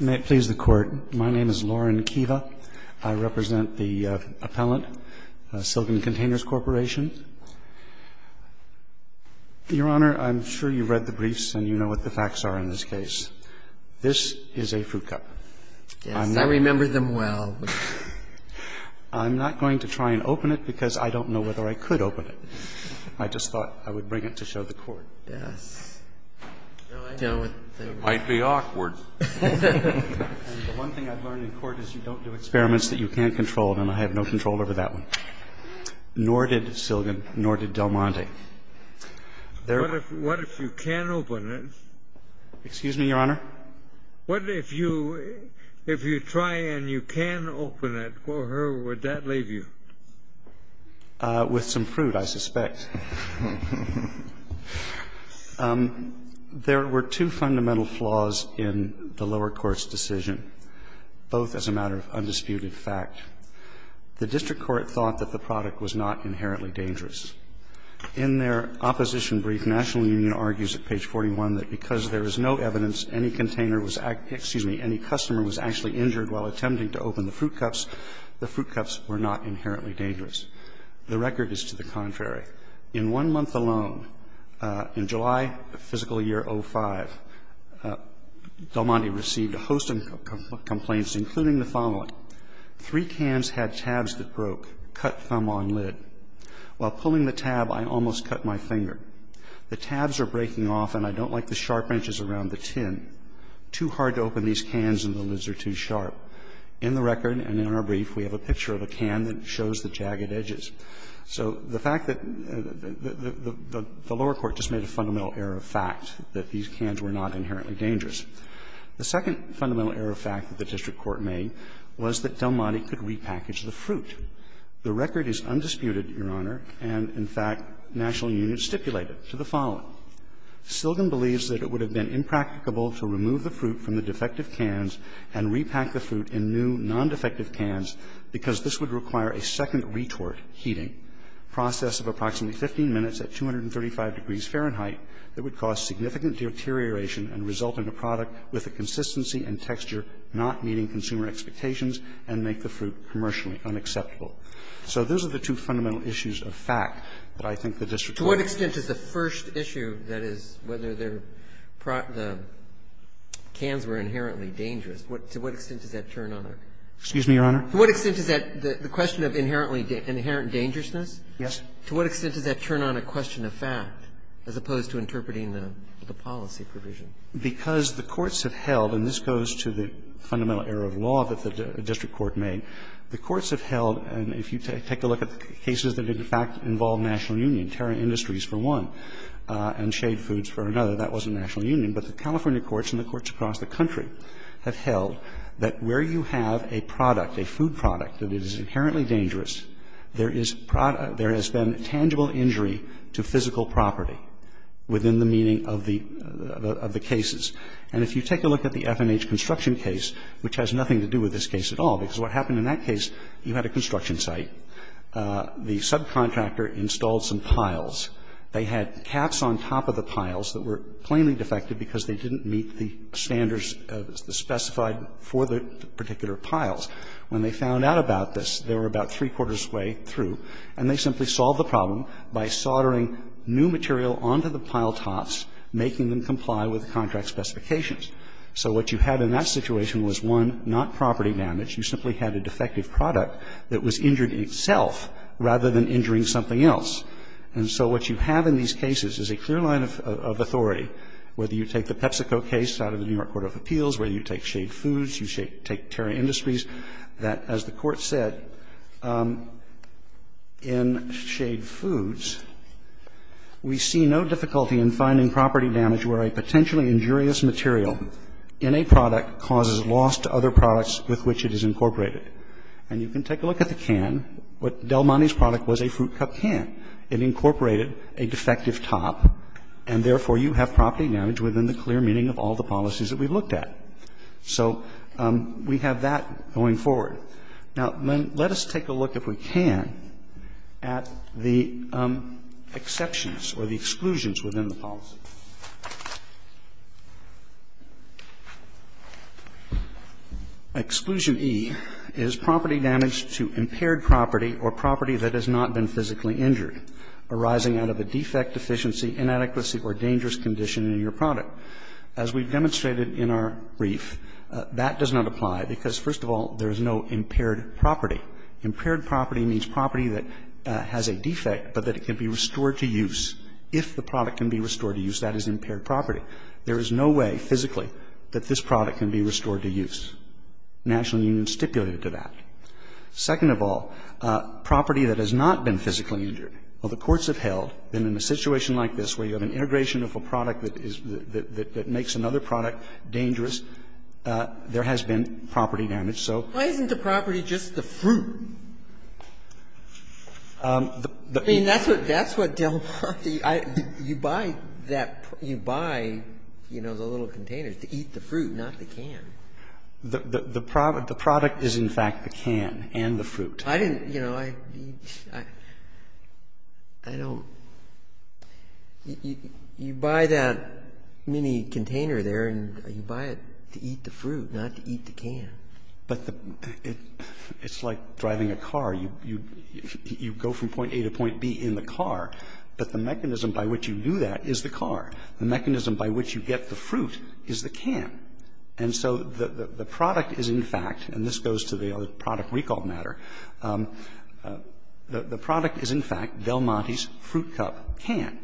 May it please the Court, my name is Loren Kiva. I represent the appellant, Silgan Containers Corporation. Your Honor, I'm sure you've read the briefs and you know what the facts are in this case. This is a fruit cup. Yes, I remember them well. I'm not going to try and open it because I don't know whether I could open it. I just thought I would bring it to show the Court. Yes. It might be awkward. The one thing I've learned in court is you don't do experiments that you can't control, and I have no control over that one. Nor did Silgan, nor did Del Monte. What if you can open it? Excuse me, Your Honor? What if you try and you can open it for her, would that leave you? With some fruit, I suspect. There were two fundamental flaws in the lower court's decision, both as a matter of undisputed fact. The district court thought that the product was not inherently dangerous. In their opposition brief, National Union argues at page 41 that because there is no evidence any container was actually – excuse me, any customer was actually injured while attempting to open the fruit cups, the fruit cups were not inherently dangerous. The record is to the contrary. In one month alone, in July of physical year 05, Del Monte received a host of complaints, including the following. Three cans had tabs that broke. Cut thumb on lid. While pulling the tab, I almost cut my finger. The tabs are breaking off and I don't like the sharp edges around the tin. Too hard to open these cans and the lids are too sharp. In the record and in our brief, we have a picture of a can that shows the jagged edges. So the fact that the lower court just made a fundamental error of fact that these cans were not inherently dangerous. The second fundamental error of fact that the district court made was that Del Monte could repackage the fruit. The record is undisputed, Your Honor, and, in fact, National Union stipulated to the following. Silgan believes that it would have been impracticable to remove the fruit from the fruit in new, non-defective cans because this would require a second retort heating process of approximately 15 minutes at 235 degrees Fahrenheit that would cause significant deterioration and result in a product with a consistency and texture not meeting consumer expectations and make the fruit commercially unacceptable. So those are the two fundamental issues of fact that I think the district court made. Roberts. Ginsburg. And to what extent is the first issue, that is, whether they're the cans were inherently dangerous, to what extent does that turn on a question? Excuse me, Your Honor? To what extent does that the question of inherently the inherent dangerousness? Yes. To what extent does that turn on a question of fact as opposed to interpreting the policy provision? Because the courts have held, and this goes to the fundamental error of law that the district court made, the courts have held, and if you take a look at the cases that did, in fact, involve national union, Terra Industries for one and Shade Foods for another, that wasn't national union, but the California courts and the courts across the country have held that where you have a product, a food product, that is inherently dangerous, there is been tangible injury to physical property within the meaning of the cases. And if you take a look at the F&H construction case, which has nothing to do with this case at all, because what happened in that case, you had a construction site, the subcontractor installed some piles. They had caps on top of the piles that were plainly defective because they didn't meet the standards specified for the particular piles. When they found out about this, they were about three-quarters' way through, and they simply solved the problem by soldering new material onto the pile tops, making them comply with the contract specifications. So what you had in that situation was, one, not property damage. You simply had a defective product that was injured in itself rather than injuring something else. And so what you have in these cases is a clear line of authority, whether you take the PepsiCo case out of the New York court of appeals, whether you take Shade Foods, you take Terra Industries, that, as the Court said, in Shade Foods, we see no difficulty in finding property damage where a potentially injurious material in a product And you can take a look at the can. Del Monte's product was a fruit cup can. It incorporated a defective top, and therefore you have property damage within the clear meaning of all the policies that we've looked at. So we have that going forward. Now, let us take a look, if we can, at the exceptions or the exclusions within the policy. Exclusion E is property damage to impaired property or property that has not been physically injured, arising out of a defect, deficiency, inadequacy, or dangerous condition in your product. As we've demonstrated in our brief, that does not apply, because, first of all, there is no impaired property. Impaired property means property that has a defect, but that it can be restored to use if the product can be restored to use. That is impaired property. There is no way, physically, that this product can be restored to use. The National Union stipulated to that. Second of all, property that has not been physically injured. Well, the courts have held that in a situation like this where you have an integration of a product that is the – that makes another product dangerous, there has been property damage. So why isn't the property just the fruit? I mean, that's what Del Marty – you buy that – you buy, you know, the little containers to eat the fruit, not the can. The product is, in fact, the can and the fruit. I didn't – you know, I don't – you buy that mini-container there, and you buy it to eat the fruit, not to eat the can. But the – it's like driving a car. You go from point A to point B in the car, but the mechanism by which you do that is the car. The mechanism by which you get the fruit is the can. And so the product is, in fact, and this goes to the other product recall matter, the product is, in fact, Del Marty's fruit cup can.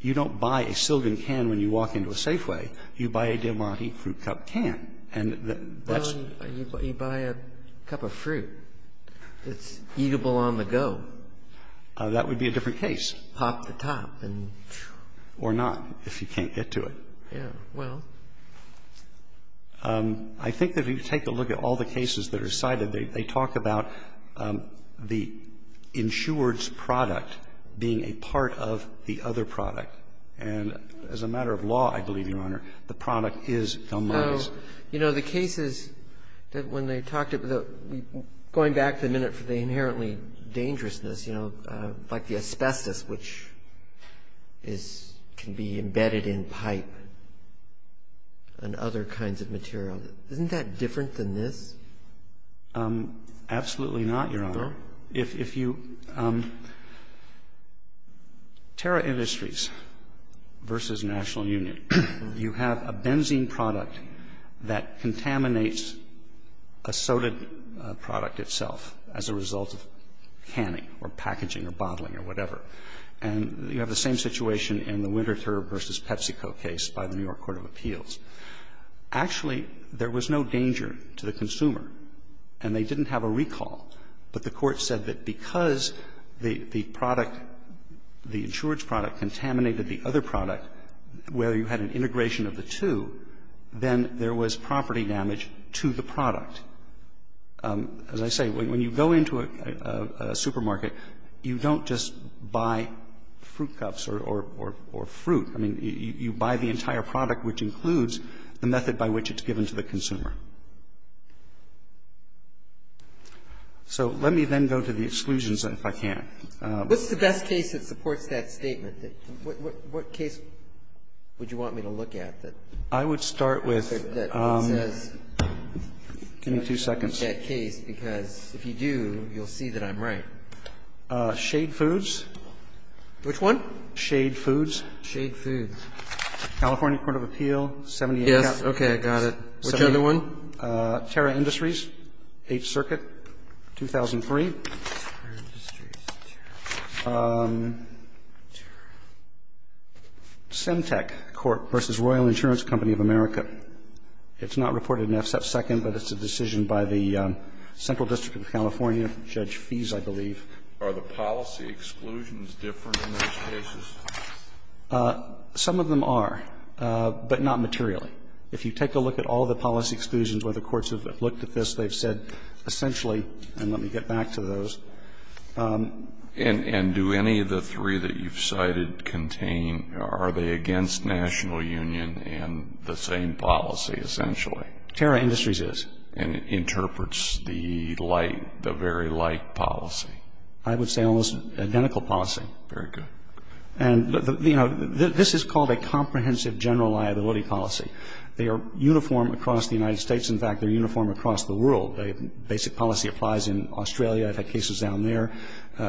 You don't buy a Silvan can when you walk into a Safeway. You buy a Del Marty fruit cup can. And that's – Well, you buy a cup of fruit that's eatable on the go. That would be a different case. Pop the top and phew. Or not, if you can't get to it. Yeah. Well. I think that if you take a look at all the cases that are cited, they talk about the insured's product being a part of the other product. And as a matter of law, I believe, Your Honor, the product is Del Marty's. You know, the cases that when they talked about – going back to the minute for the inherently dangerousness, you know, like the asbestos, which is – can be embedded in pipe and other kinds of material. Isn't that different than this? Absolutely not, Your Honor. If you – Terra Industries v. National Union, you have a benzene product that contaminates a soda product itself as a result of canning or packaging or bottling or whatever. And you have the same situation in the Winter Turb v. PepsiCo case by the New York Court of Appeals. Actually, there was no danger to the consumer, and they didn't have a recall. But the Court said that because the product, the insured's product, contaminated the other product where you had an integration of the two, then there was property damage to the product. As I say, when you go into a supermarket, you don't just buy fruit cups or fruit. I mean, you buy the entire product, which includes the method by which it's given to the consumer. So let me then go to the exclusions, if I can. What's the best case that supports that statement? What case would you want me to look at that says that you don't support that case? I would start with – give me two seconds. Because if you do, you'll see that I'm right. Shade Foods. Which one? Shade Foods. Shade Foods. California Court of Appeals. Yes. Okay. I got it. Which other one? Terra Industries. Eighth Circuit, 2003. Semtec Court v. Royal Insurance Company of America. It's not reported in F-Second, but it's a decision by the Central District of California, Judge Fees, I believe. Are the policy exclusions different in those cases? Some of them are, but not materially. If you take a look at all the policy exclusions where the courts have looked at this, they've said essentially – and let me get back to those. And do any of the three that you've cited contain – are they against national union and the same policy, essentially? Terra Industries is. And it interprets the very like policy? I would say almost identical policy. Very good. And, you know, this is called a comprehensive general liability policy. They are uniform across the United States. In fact, they're uniform across the world. Basic policy applies in Australia. I've had cases down there.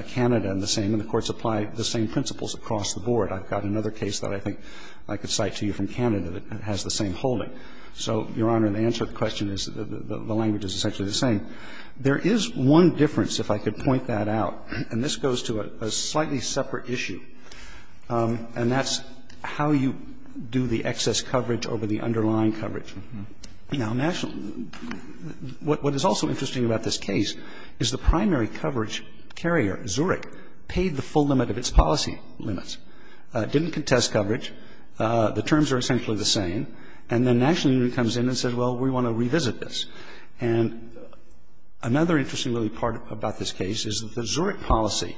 Canada and the same. And the courts apply the same principles across the board. I've got another case that I think I could cite to you from Canada that has the same holding. So, Your Honor, the answer to the question is the language is essentially the same. There is one difference, if I could point that out. And this goes to a slightly separate issue, and that's how you do the excess coverage over the underlying coverage. Now, national – what is also interesting about this case is the primary coverage carrier, Zurich, paid the full limit of its policy limits. It didn't contest coverage. The terms are essentially the same. And then national union comes in and says, well, we want to revisit this. And another interesting, really, part about this case is that the Zurich policy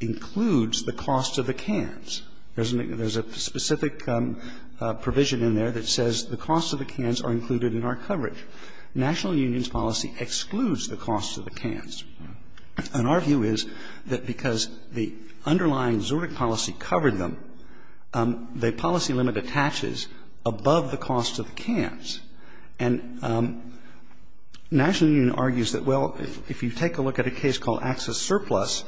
includes the cost of the cans. There's a specific provision in there that says the cost of the cans are included in our coverage. National union's policy excludes the cost of the cans. And our view is that because the underlying Zurich policy covered them, the policy limit attaches above the cost of the cans. And national union argues that, well, if you take a look at a case called access surplus,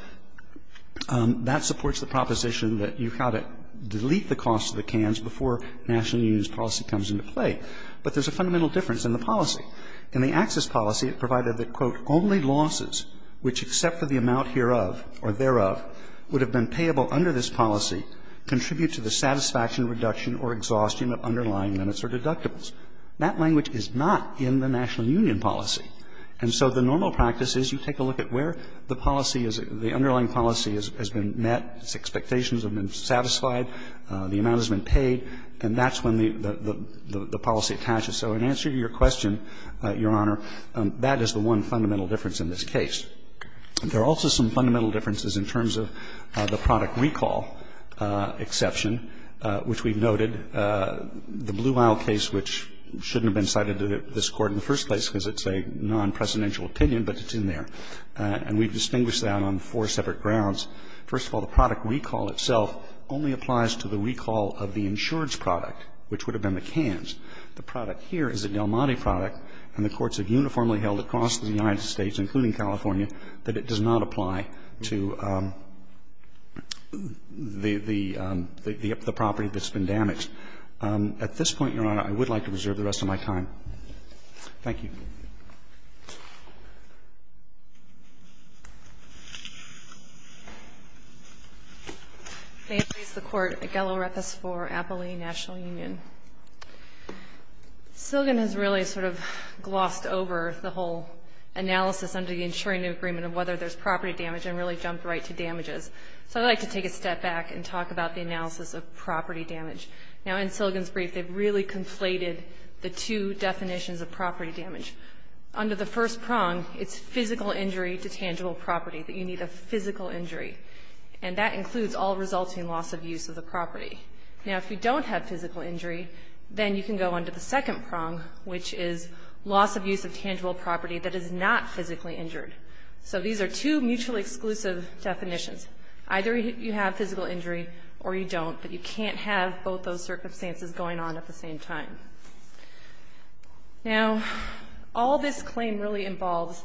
that supports the proposition that you've got to delete the cost of the cans before national union's policy comes into play. But there's a fundamental difference in the policy. In the access policy, it provided that, quote, only losses which except for the amount hereof or thereof would have been payable under this policy contribute to the satisfaction reduction or exhaustion of underlying limits or deductibles. That language is not in the national union policy. And so the normal practice is you take a look at where the policy is, the underlying policy has been met, its expectations have been satisfied, the amount has been paid, and that's when the policy attaches. So in answer to your question, Your Honor, that is the one fundamental difference in this case. There are also some fundamental differences in terms of the product recall exception, which we've noted. The Blue Isle case, which shouldn't have been cited to this Court in the first place because it's a non-presidential opinion, but it's in there. And we've distinguished that on four separate grounds. First of all, the product recall itself only applies to the recall of the insurance product, which would have been the cans. The product here is a Del Monte product, and the courts have uniformly held across the board that the can is a non-presidential opinion. And so the question is, can we use that to get the property that's been damaged? At this point, Your Honor, I would like to reserve the rest of my time. Thank you. Silgan has really sort of glossed over the whole analysis under the insuring agreement of whether there's property damage and really jumped right to damages. So I'd like to take a step back and talk about the analysis of property damage. Now, in Silgan's brief, they've really conflated the two definitions of property damage. Under the first prong, it's physical injury to tangible property, that you need a physical injury. And that includes all resulting loss of use of the property. Now, if you don't have physical injury, then you can go under the second prong, which is loss of use of tangible property that is not physically injured. So these are two mutually exclusive definitions. Either you have physical injury or you don't. But you can't have both those circumstances going on at the same time. Now, all this claim really involves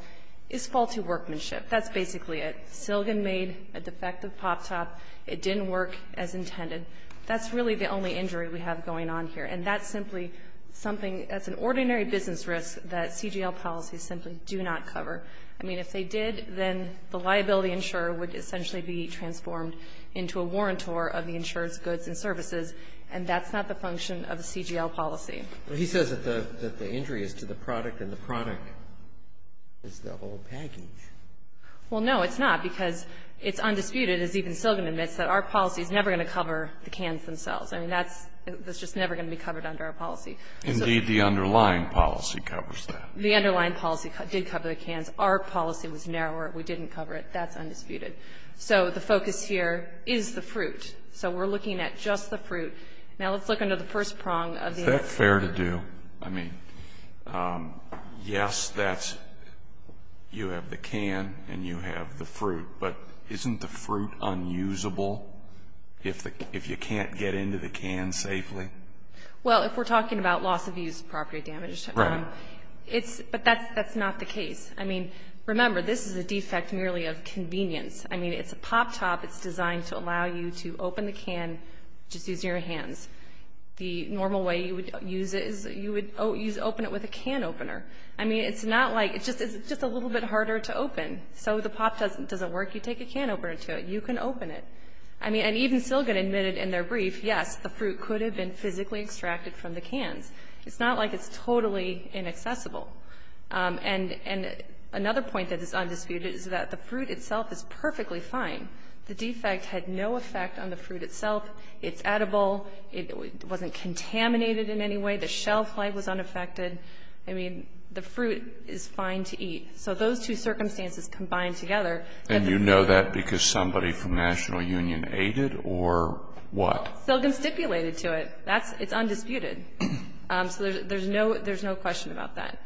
is faulty workmanship. That's basically it. Silgan made a defective pop-top. It didn't work as intended. That's really the only injury we have going on here. And that's simply something that's an ordinary business risk that CGL policies simply do not cover. I mean, if they did, then the liability insurer would essentially be transformed into a warrantor of the insurer's goods and services. And that's not the function of a CGL policy. He says that the injury is to the product, and the product is the whole package. Well, no, it's not, because it's undisputed, as even Silgan admits, that our policy is never going to cover the cans themselves. I mean, that's just never going to be covered under our policy. Indeed, the underlying policy covers that. The underlying policy did cover the cans. Our policy was narrower. We didn't cover it. That's undisputed. So the focus here is the fruit. So we're looking at just the fruit. Now, let's look under the first prong of the insurer. Is that fair to do? I mean, yes, that's you have the can and you have the fruit, but isn't the fruit unusable if you can't get into the can safely? Well, if we're talking about loss-of-use property damage, but that's not the case. I mean, remember, this is a defect merely of convenience. I mean, it's a pop top. It's designed to allow you to open the can just using your hands. The normal way you would use it is you would open it with a can opener. I mean, it's just a little bit harder to open. So the pop doesn't work, you take a can opener to it. You can open it. I mean, and even Silgon admitted in their brief, yes, the fruit could have been physically extracted from the cans. It's not like it's totally inaccessible. And another point that is undisputed is that the fruit itself is perfectly fine. The defect had no effect on the fruit itself. It's edible. It wasn't contaminated in any way. The shelf life was unaffected. I mean, the fruit is fine to eat. So those two circumstances combined together. And you know that because somebody from National Union ate it or what? Silgon stipulated to it. It's undisputed. So there's no question about that.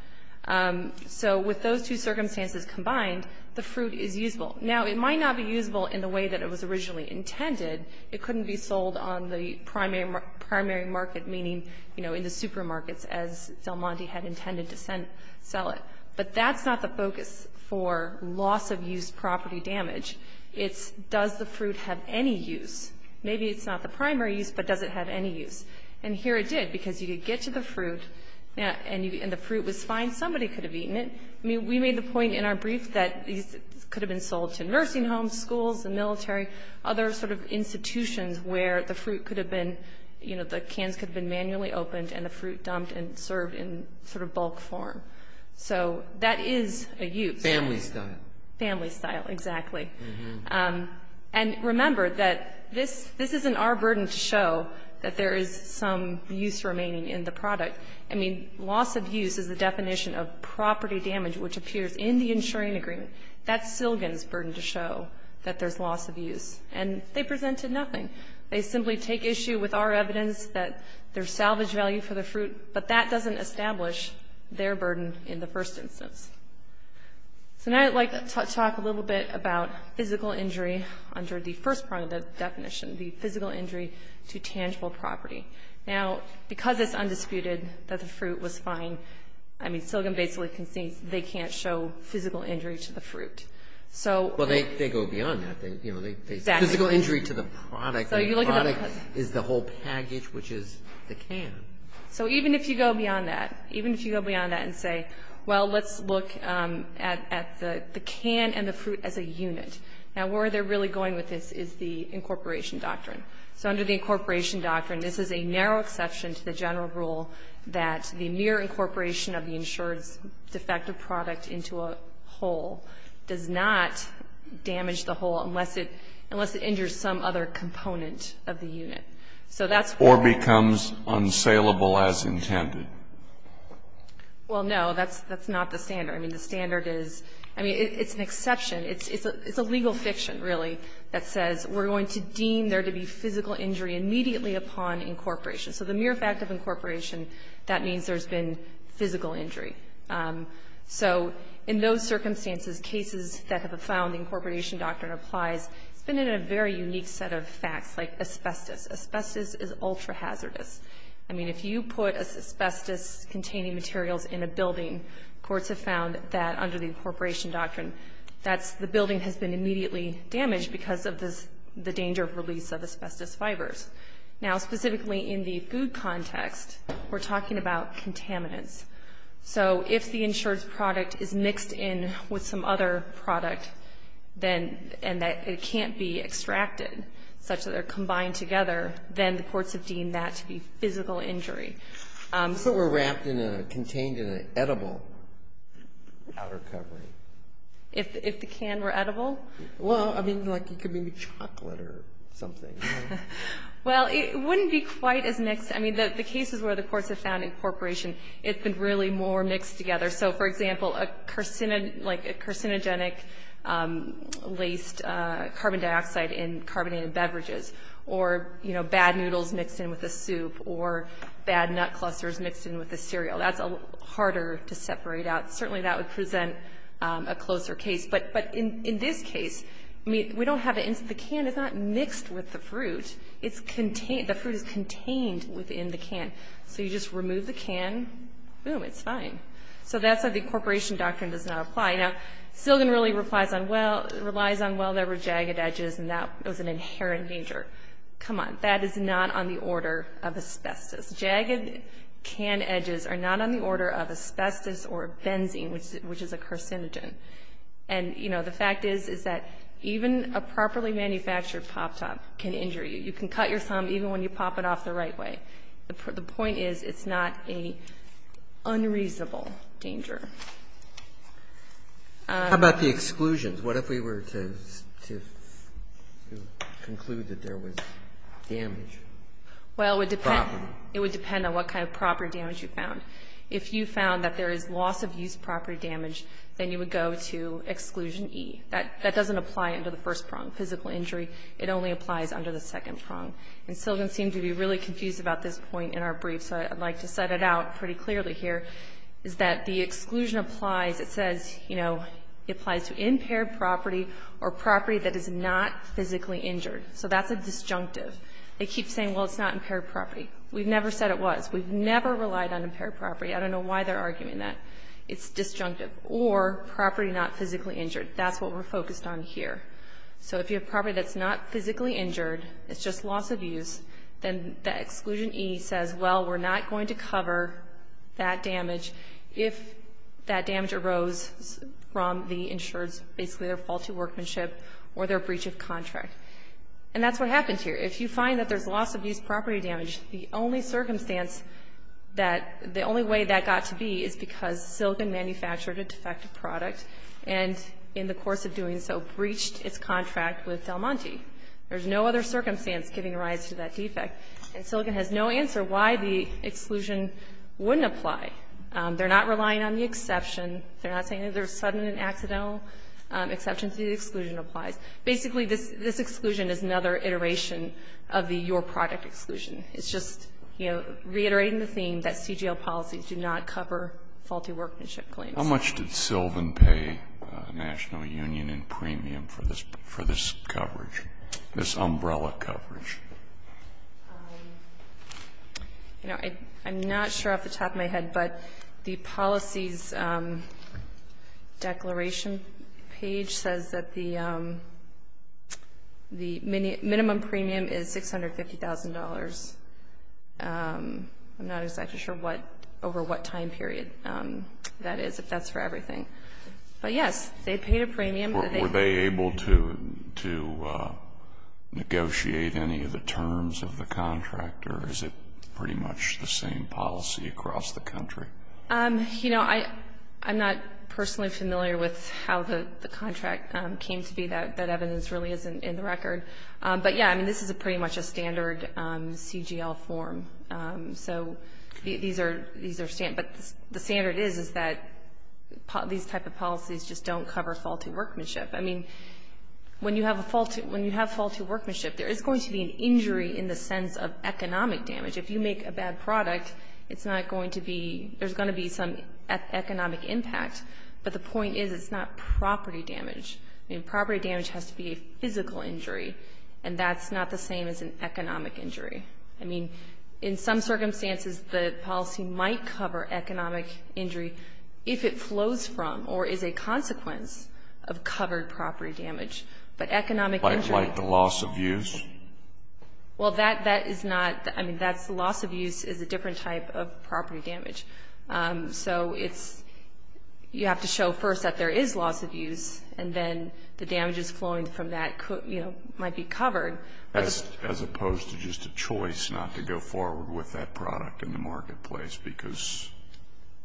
So with those two circumstances combined, the fruit is usable. Now, it might not be usable in the way that it was originally intended. It couldn't be sold on the primary market, meaning, you know, in the supermarkets as Del Monte had intended to sell it. But that's not the focus for loss-of-use property damage. It's does the fruit have any use? Maybe it's not the primary use, but does it have any use? And here it did because you could get to the fruit and the fruit was fine. Somebody could have eaten it. I mean, we made the point in our brief that these could have been sold to nursing homes, schools, the military, other sort of institutions where the fruit could have been, you know, the cans could have been manually opened and the fruit dumped and served in sort of bulk form. So that is a use. Family style. Family style, exactly. And remember that this isn't our burden to show that there is some use remaining in the product. I mean, loss-of-use is the definition of property damage which appears in the insuring agreement. That's Silgon's burden to show that there's loss-of-use. And they presented nothing. They simply take issue with our evidence that there's salvage value for the fruit, but that doesn't establish their burden in the first instance. So now I'd like to talk a little bit about physical injury under the first part of the definition, the physical injury to tangible property. Now, because it's undisputed that the fruit was fine, I mean, Silgon basically concedes they can't show physical injury to the fruit. Well, they go beyond that. Physical injury to the product. The product is the whole package, which is the can. So even if you go beyond that, even if you go beyond that and say, well, let's look at the can and the fruit as a unit. Now, where they're really going with this is the incorporation doctrine. So under the incorporation doctrine, this is a narrow exception to the general rule that the mere incorporation of the insured's defective product into a hole does not damage the hole unless it injures some other component of the unit. So that's why. Or becomes unsalable as intended. Well, no, that's not the standard. I mean, the standard is, I mean, it's an exception. It's a legal fiction, really, that says we're going to deem there to be physical injury immediately upon incorporation. So the mere fact of incorporation, that means there's been physical injury. So in those circumstances, cases that have found the incorporation doctrine applies, it's been in a very unique set of facts, like asbestos. Asbestos is ultra-hazardous. I mean, if you put asbestos-containing materials in a building, courts have found that under the incorporation doctrine, the building has been immediately damaged because of the danger of release of asbestos fibers. Now, specifically in the food context, we're talking about contaminants. So if the insured product is mixed in with some other product, then and that it can't be extracted, such that they're combined together, then the courts have deemed that to be physical injury. If it were wrapped in a, contained in an edible outer covering. If the can were edible? Well, I mean, like it could be chocolate or something. Well, it wouldn't be quite as mixed. I mean, the cases where the courts have found incorporation, it's been really more mixed together. So, for example, like a carcinogenic-laced carbon dioxide in carbonated beverages or, you know, bad noodles mixed in with a soup or bad nut clusters mixed in with a cereal. That's harder to separate out. Certainly that would present a closer case. But in this case, I mean, we don't have it. The can is not mixed with the fruit. The fruit is contained within the can. So you just remove the can. Boom, it's fine. So that's how the incorporation doctrine does not apply. Now, Silligan really relies on, well, there were jagged edges and that was an inherent danger. Come on. That is not on the order of asbestos. Jagged can edges are not on the order of asbestos or benzene, which is a carcinogen. And, you know, the fact is, is that even a properly manufactured pop-top can is a danger. You can cut your thumb even when you pop it off the right way. The point is, it's not an unreasonable danger. How about the exclusions? What if we were to conclude that there was damage? Well, it would depend on what kind of property damage you found. If you found that there is loss-of-use property damage, then you would go to exclusion E. That doesn't apply under the first prong, physical injury. It only applies under the second prong. And Silligan seemed to be really confused about this point in our brief, so I'd like to set it out pretty clearly here, is that the exclusion applies, it says, you know, it applies to impaired property or property that is not physically injured. So that's a disjunctive. They keep saying, well, it's not impaired property. We've never said it was. We've never relied on impaired property. I don't know why they're arguing that. It's disjunctive. Or property not physically injured. That's what we're focused on here. So if you have property that's not physically injured, it's just loss-of-use, then the exclusion E says, well, we're not going to cover that damage if that damage arose from the insured's basically their faulty workmanship or their breach of contract. And that's what happens here. If you find that there's loss-of-use property damage, the only circumstance that, the only way that got to be is because Silligan manufactured a defective and, in the course of doing so, breached its contract with Del Monte. There's no other circumstance giving rise to that defect. And Silligan has no answer why the exclusion wouldn't apply. They're not relying on the exception. They're not saying that there's sudden and accidental exceptions to the exclusion applies. Basically, this exclusion is another iteration of the your product exclusion. It's just, you know, reiterating the theme that CGL policies do not cover faulty workmanship claims. How much did Sylvan pay National Union in premium for this coverage, this umbrella coverage? You know, I'm not sure off the top of my head, but the policies declaration page says that the minimum premium is $650,000. I'm not exactly sure what, over what time period that is, if that's for everything. But, yes, they paid a premium. Were they able to negotiate any of the terms of the contract, or is it pretty much the same policy across the country? You know, I'm not personally familiar with how the contract came to be. That evidence really isn't in the record. But, yes, I mean, this is pretty much a standard CGL form. So these are standard. But the standard is that these type of policies just don't cover faulty workmanship. I mean, when you have faulty workmanship, there is going to be an injury in the sense of economic damage. If you make a bad product, it's not going to be, there's going to be some economic impact. But the point is, it's not property damage. I mean, property damage has to be a physical injury. And that's not the same as an economic injury. I mean, in some circumstances, the policy might cover economic injury if it flows from or is a consequence of covered property damage. But economic injury... Like the loss of use? Well, that is not, I mean, that's loss of use is a different type of property damage. So it's, you have to show first that there is loss of use and then the damages flowing from that, you know, might be covered. As opposed to just a choice not to go forward with that product in the marketplace because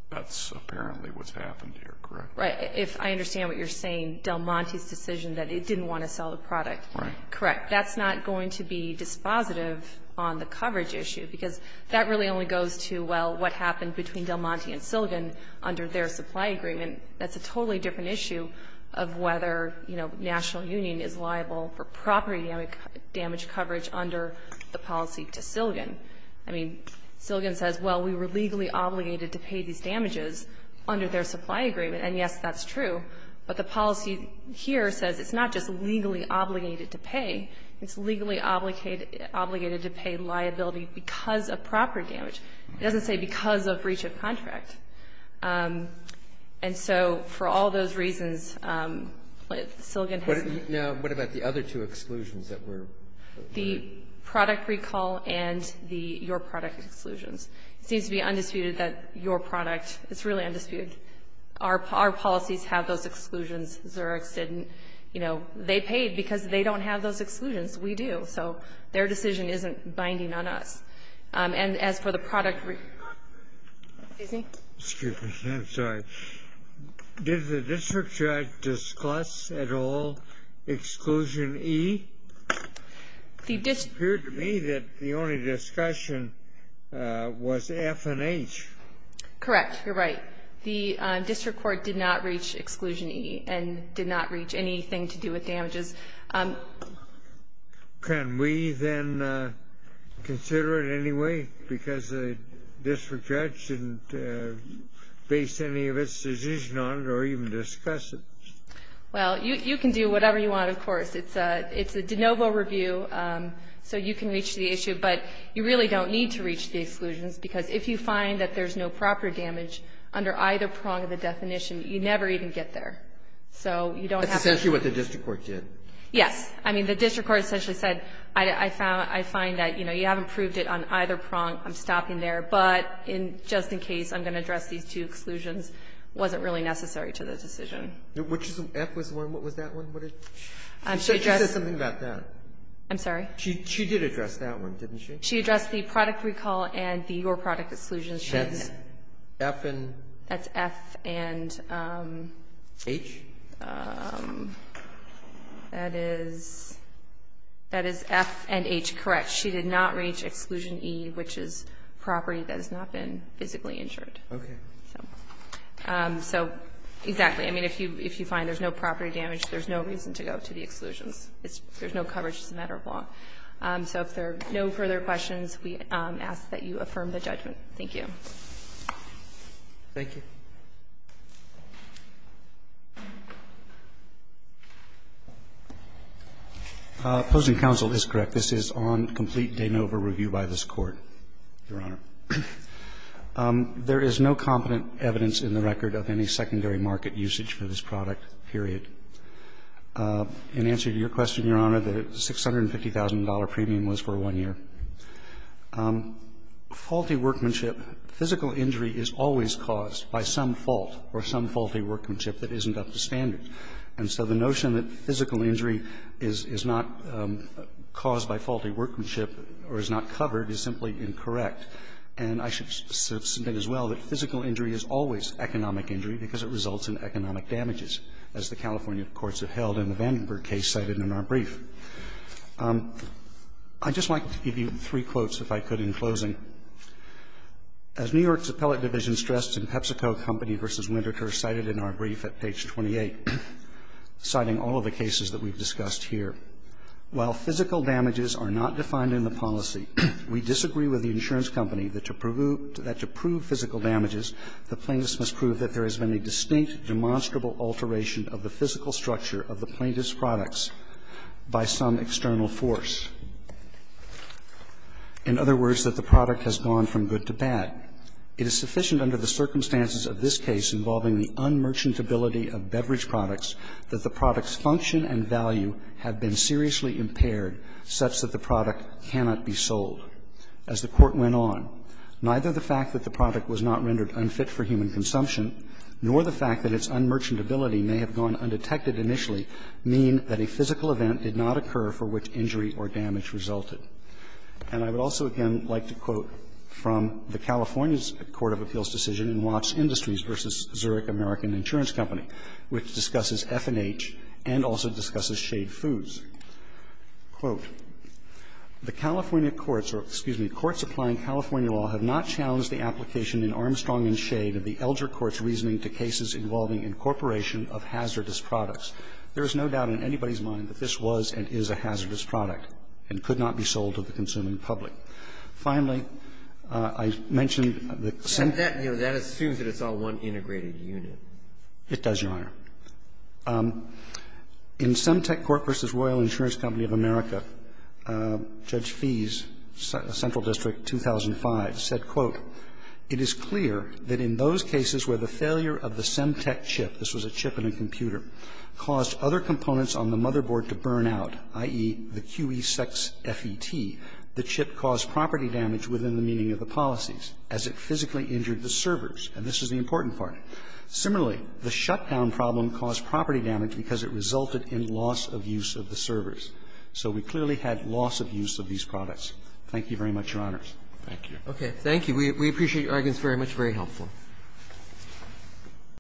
that's apparently what's happened here, correct? Right. If I understand what you're saying, Del Monte's decision that it didn't want to sell the product. Right. Correct. That's not going to be dispositive on the coverage issue because that really only goes to, well, what happened between Del Monte and Silligan under their supply agreement. That's a totally different issue of whether, you know, National Union is liable for property damage coverage under the policy to Silligan. I mean, Silligan says, well, we were legally obligated to pay these damages under their supply agreement. And yes, that's true. But the policy here says it's not just legally obligated to pay. It's legally obligated to pay liability because of property damage. It doesn't say because of breach of contract. And so for all those reasons, Silligan has to be. Now, what about the other two exclusions that were? The product recall and the your product exclusions. It seems to be undisputed that your product, it's really undisputed, our policies have those exclusions. Xerox didn't. You know, they paid because they don't have those exclusions. We do. So their decision isn't binding on us. And as for the product. Excuse me. Excuse me. I'm sorry. Did the district judge discuss at all exclusion E? It appeared to me that the only discussion was F and H. Correct. You're right. The district court did not reach exclusion E. And did not reach anything to do with damages. Can we then consider it anyway? Because the district judge didn't base any of its decision on it or even discuss it. Well, you can do whatever you want, of course. It's a de novo review. So you can reach the issue. But you really don't need to reach the exclusions. Because if you find that there's no proper damage under either prong of the definition, you never even get there. So you don't have to. That's essentially what the district court did. Yes. I mean, the district court essentially said, I find that, you know, you haven't proved it on either prong. I'm stopping there. But just in case, I'm going to address these two exclusions. Wasn't really necessary to the decision. Which is F was the one? What was that one? She said something about that. I'm sorry. She did address that one, didn't she? She addressed the product recall and your product exclusions. That's F and? That's F and. H? That is F and H, correct. She did not reach exclusion E, which is property that has not been physically injured. Okay. So, exactly. I mean, if you find there's no property damage, there's no reason to go to the exclusions. There's no coverage. It's a matter of law. So if there are no further questions, we ask that you affirm the judgment. Thank you. Thank you. Opposing counsel is correct. This is on complete de novo review by this Court, Your Honor. There is no competent evidence in the record of any secondary market usage for this product, period. In answer to your question, Your Honor, the $650,000 premium was for one year. Faulty workmanship, physical injury is always caused by some fault or some faulty workmanship that isn't up to standard. And so the notion that physical injury is not caused by faulty workmanship or is not covered is simply incorrect. And I should submit as well that physical injury is always economic injury because it results in economic damages, as the California courts have held in the Vandenberg case cited in our brief. I'd just like to give you three quotes, if I could, in closing. As New York's appellate division stressed in PepsiCo Company v. Winterthur cited in our brief at page 28, citing all of the cases that we've discussed here, while physical damages are not defined in the policy, we disagree with the insurance company that to prove physical damages, the plaintiff must prove that there has been a distinct, demonstrable alteration of the physical structure of the plaintiff's products by some external force. In other words, that the product has gone from good to bad. It is sufficient under the circumstances of this case involving the unmerchantability of beverage products that the product's function and value have been seriously impaired, such that the product cannot be sold. As the Court went on, neither the fact that the product was not rendered unfit for human consumption nor the fact that its unmerchantability may have gone undetected initially mean that a physical event did not occur for which injury or damage resulted. And I would also again like to quote from the California's court of appeals decision in Watts Industries v. Zurich American Insurance Company, which discusses F&H and also discusses Shade Foods. Quote, the California courts or, excuse me, courts applying California law have not challenged the application in Armstrong v. Shade of the elder court's reasoning to cases involving incorporation of hazardous products. There is no doubt in anybody's mind that this was and is a hazardous product and could not be sold to the consuming public. Finally, I mentioned that some of the other cases in the United States have not been considered as hazardous products. The Federal Insurance Company of America, Judge Fees, Central District, 2005, said, quote, It is clear that in those cases where the failure of the Semtec chip, this was a chip in a computer, caused other components on the motherboard to burn out, i.e., the QE sex FET, the chip caused property damage within the meaning of the policies as it physically injured the servers. And this is the important part. Similarly, the shutdown problem caused property damage because it resulted in loss of use of the servers. So we clearly had loss of use of these products. Thank you very much, Your Honors. Roberts. Thank you. Roberts. Okay. Thank you. We appreciate your arguments very much, very helpful.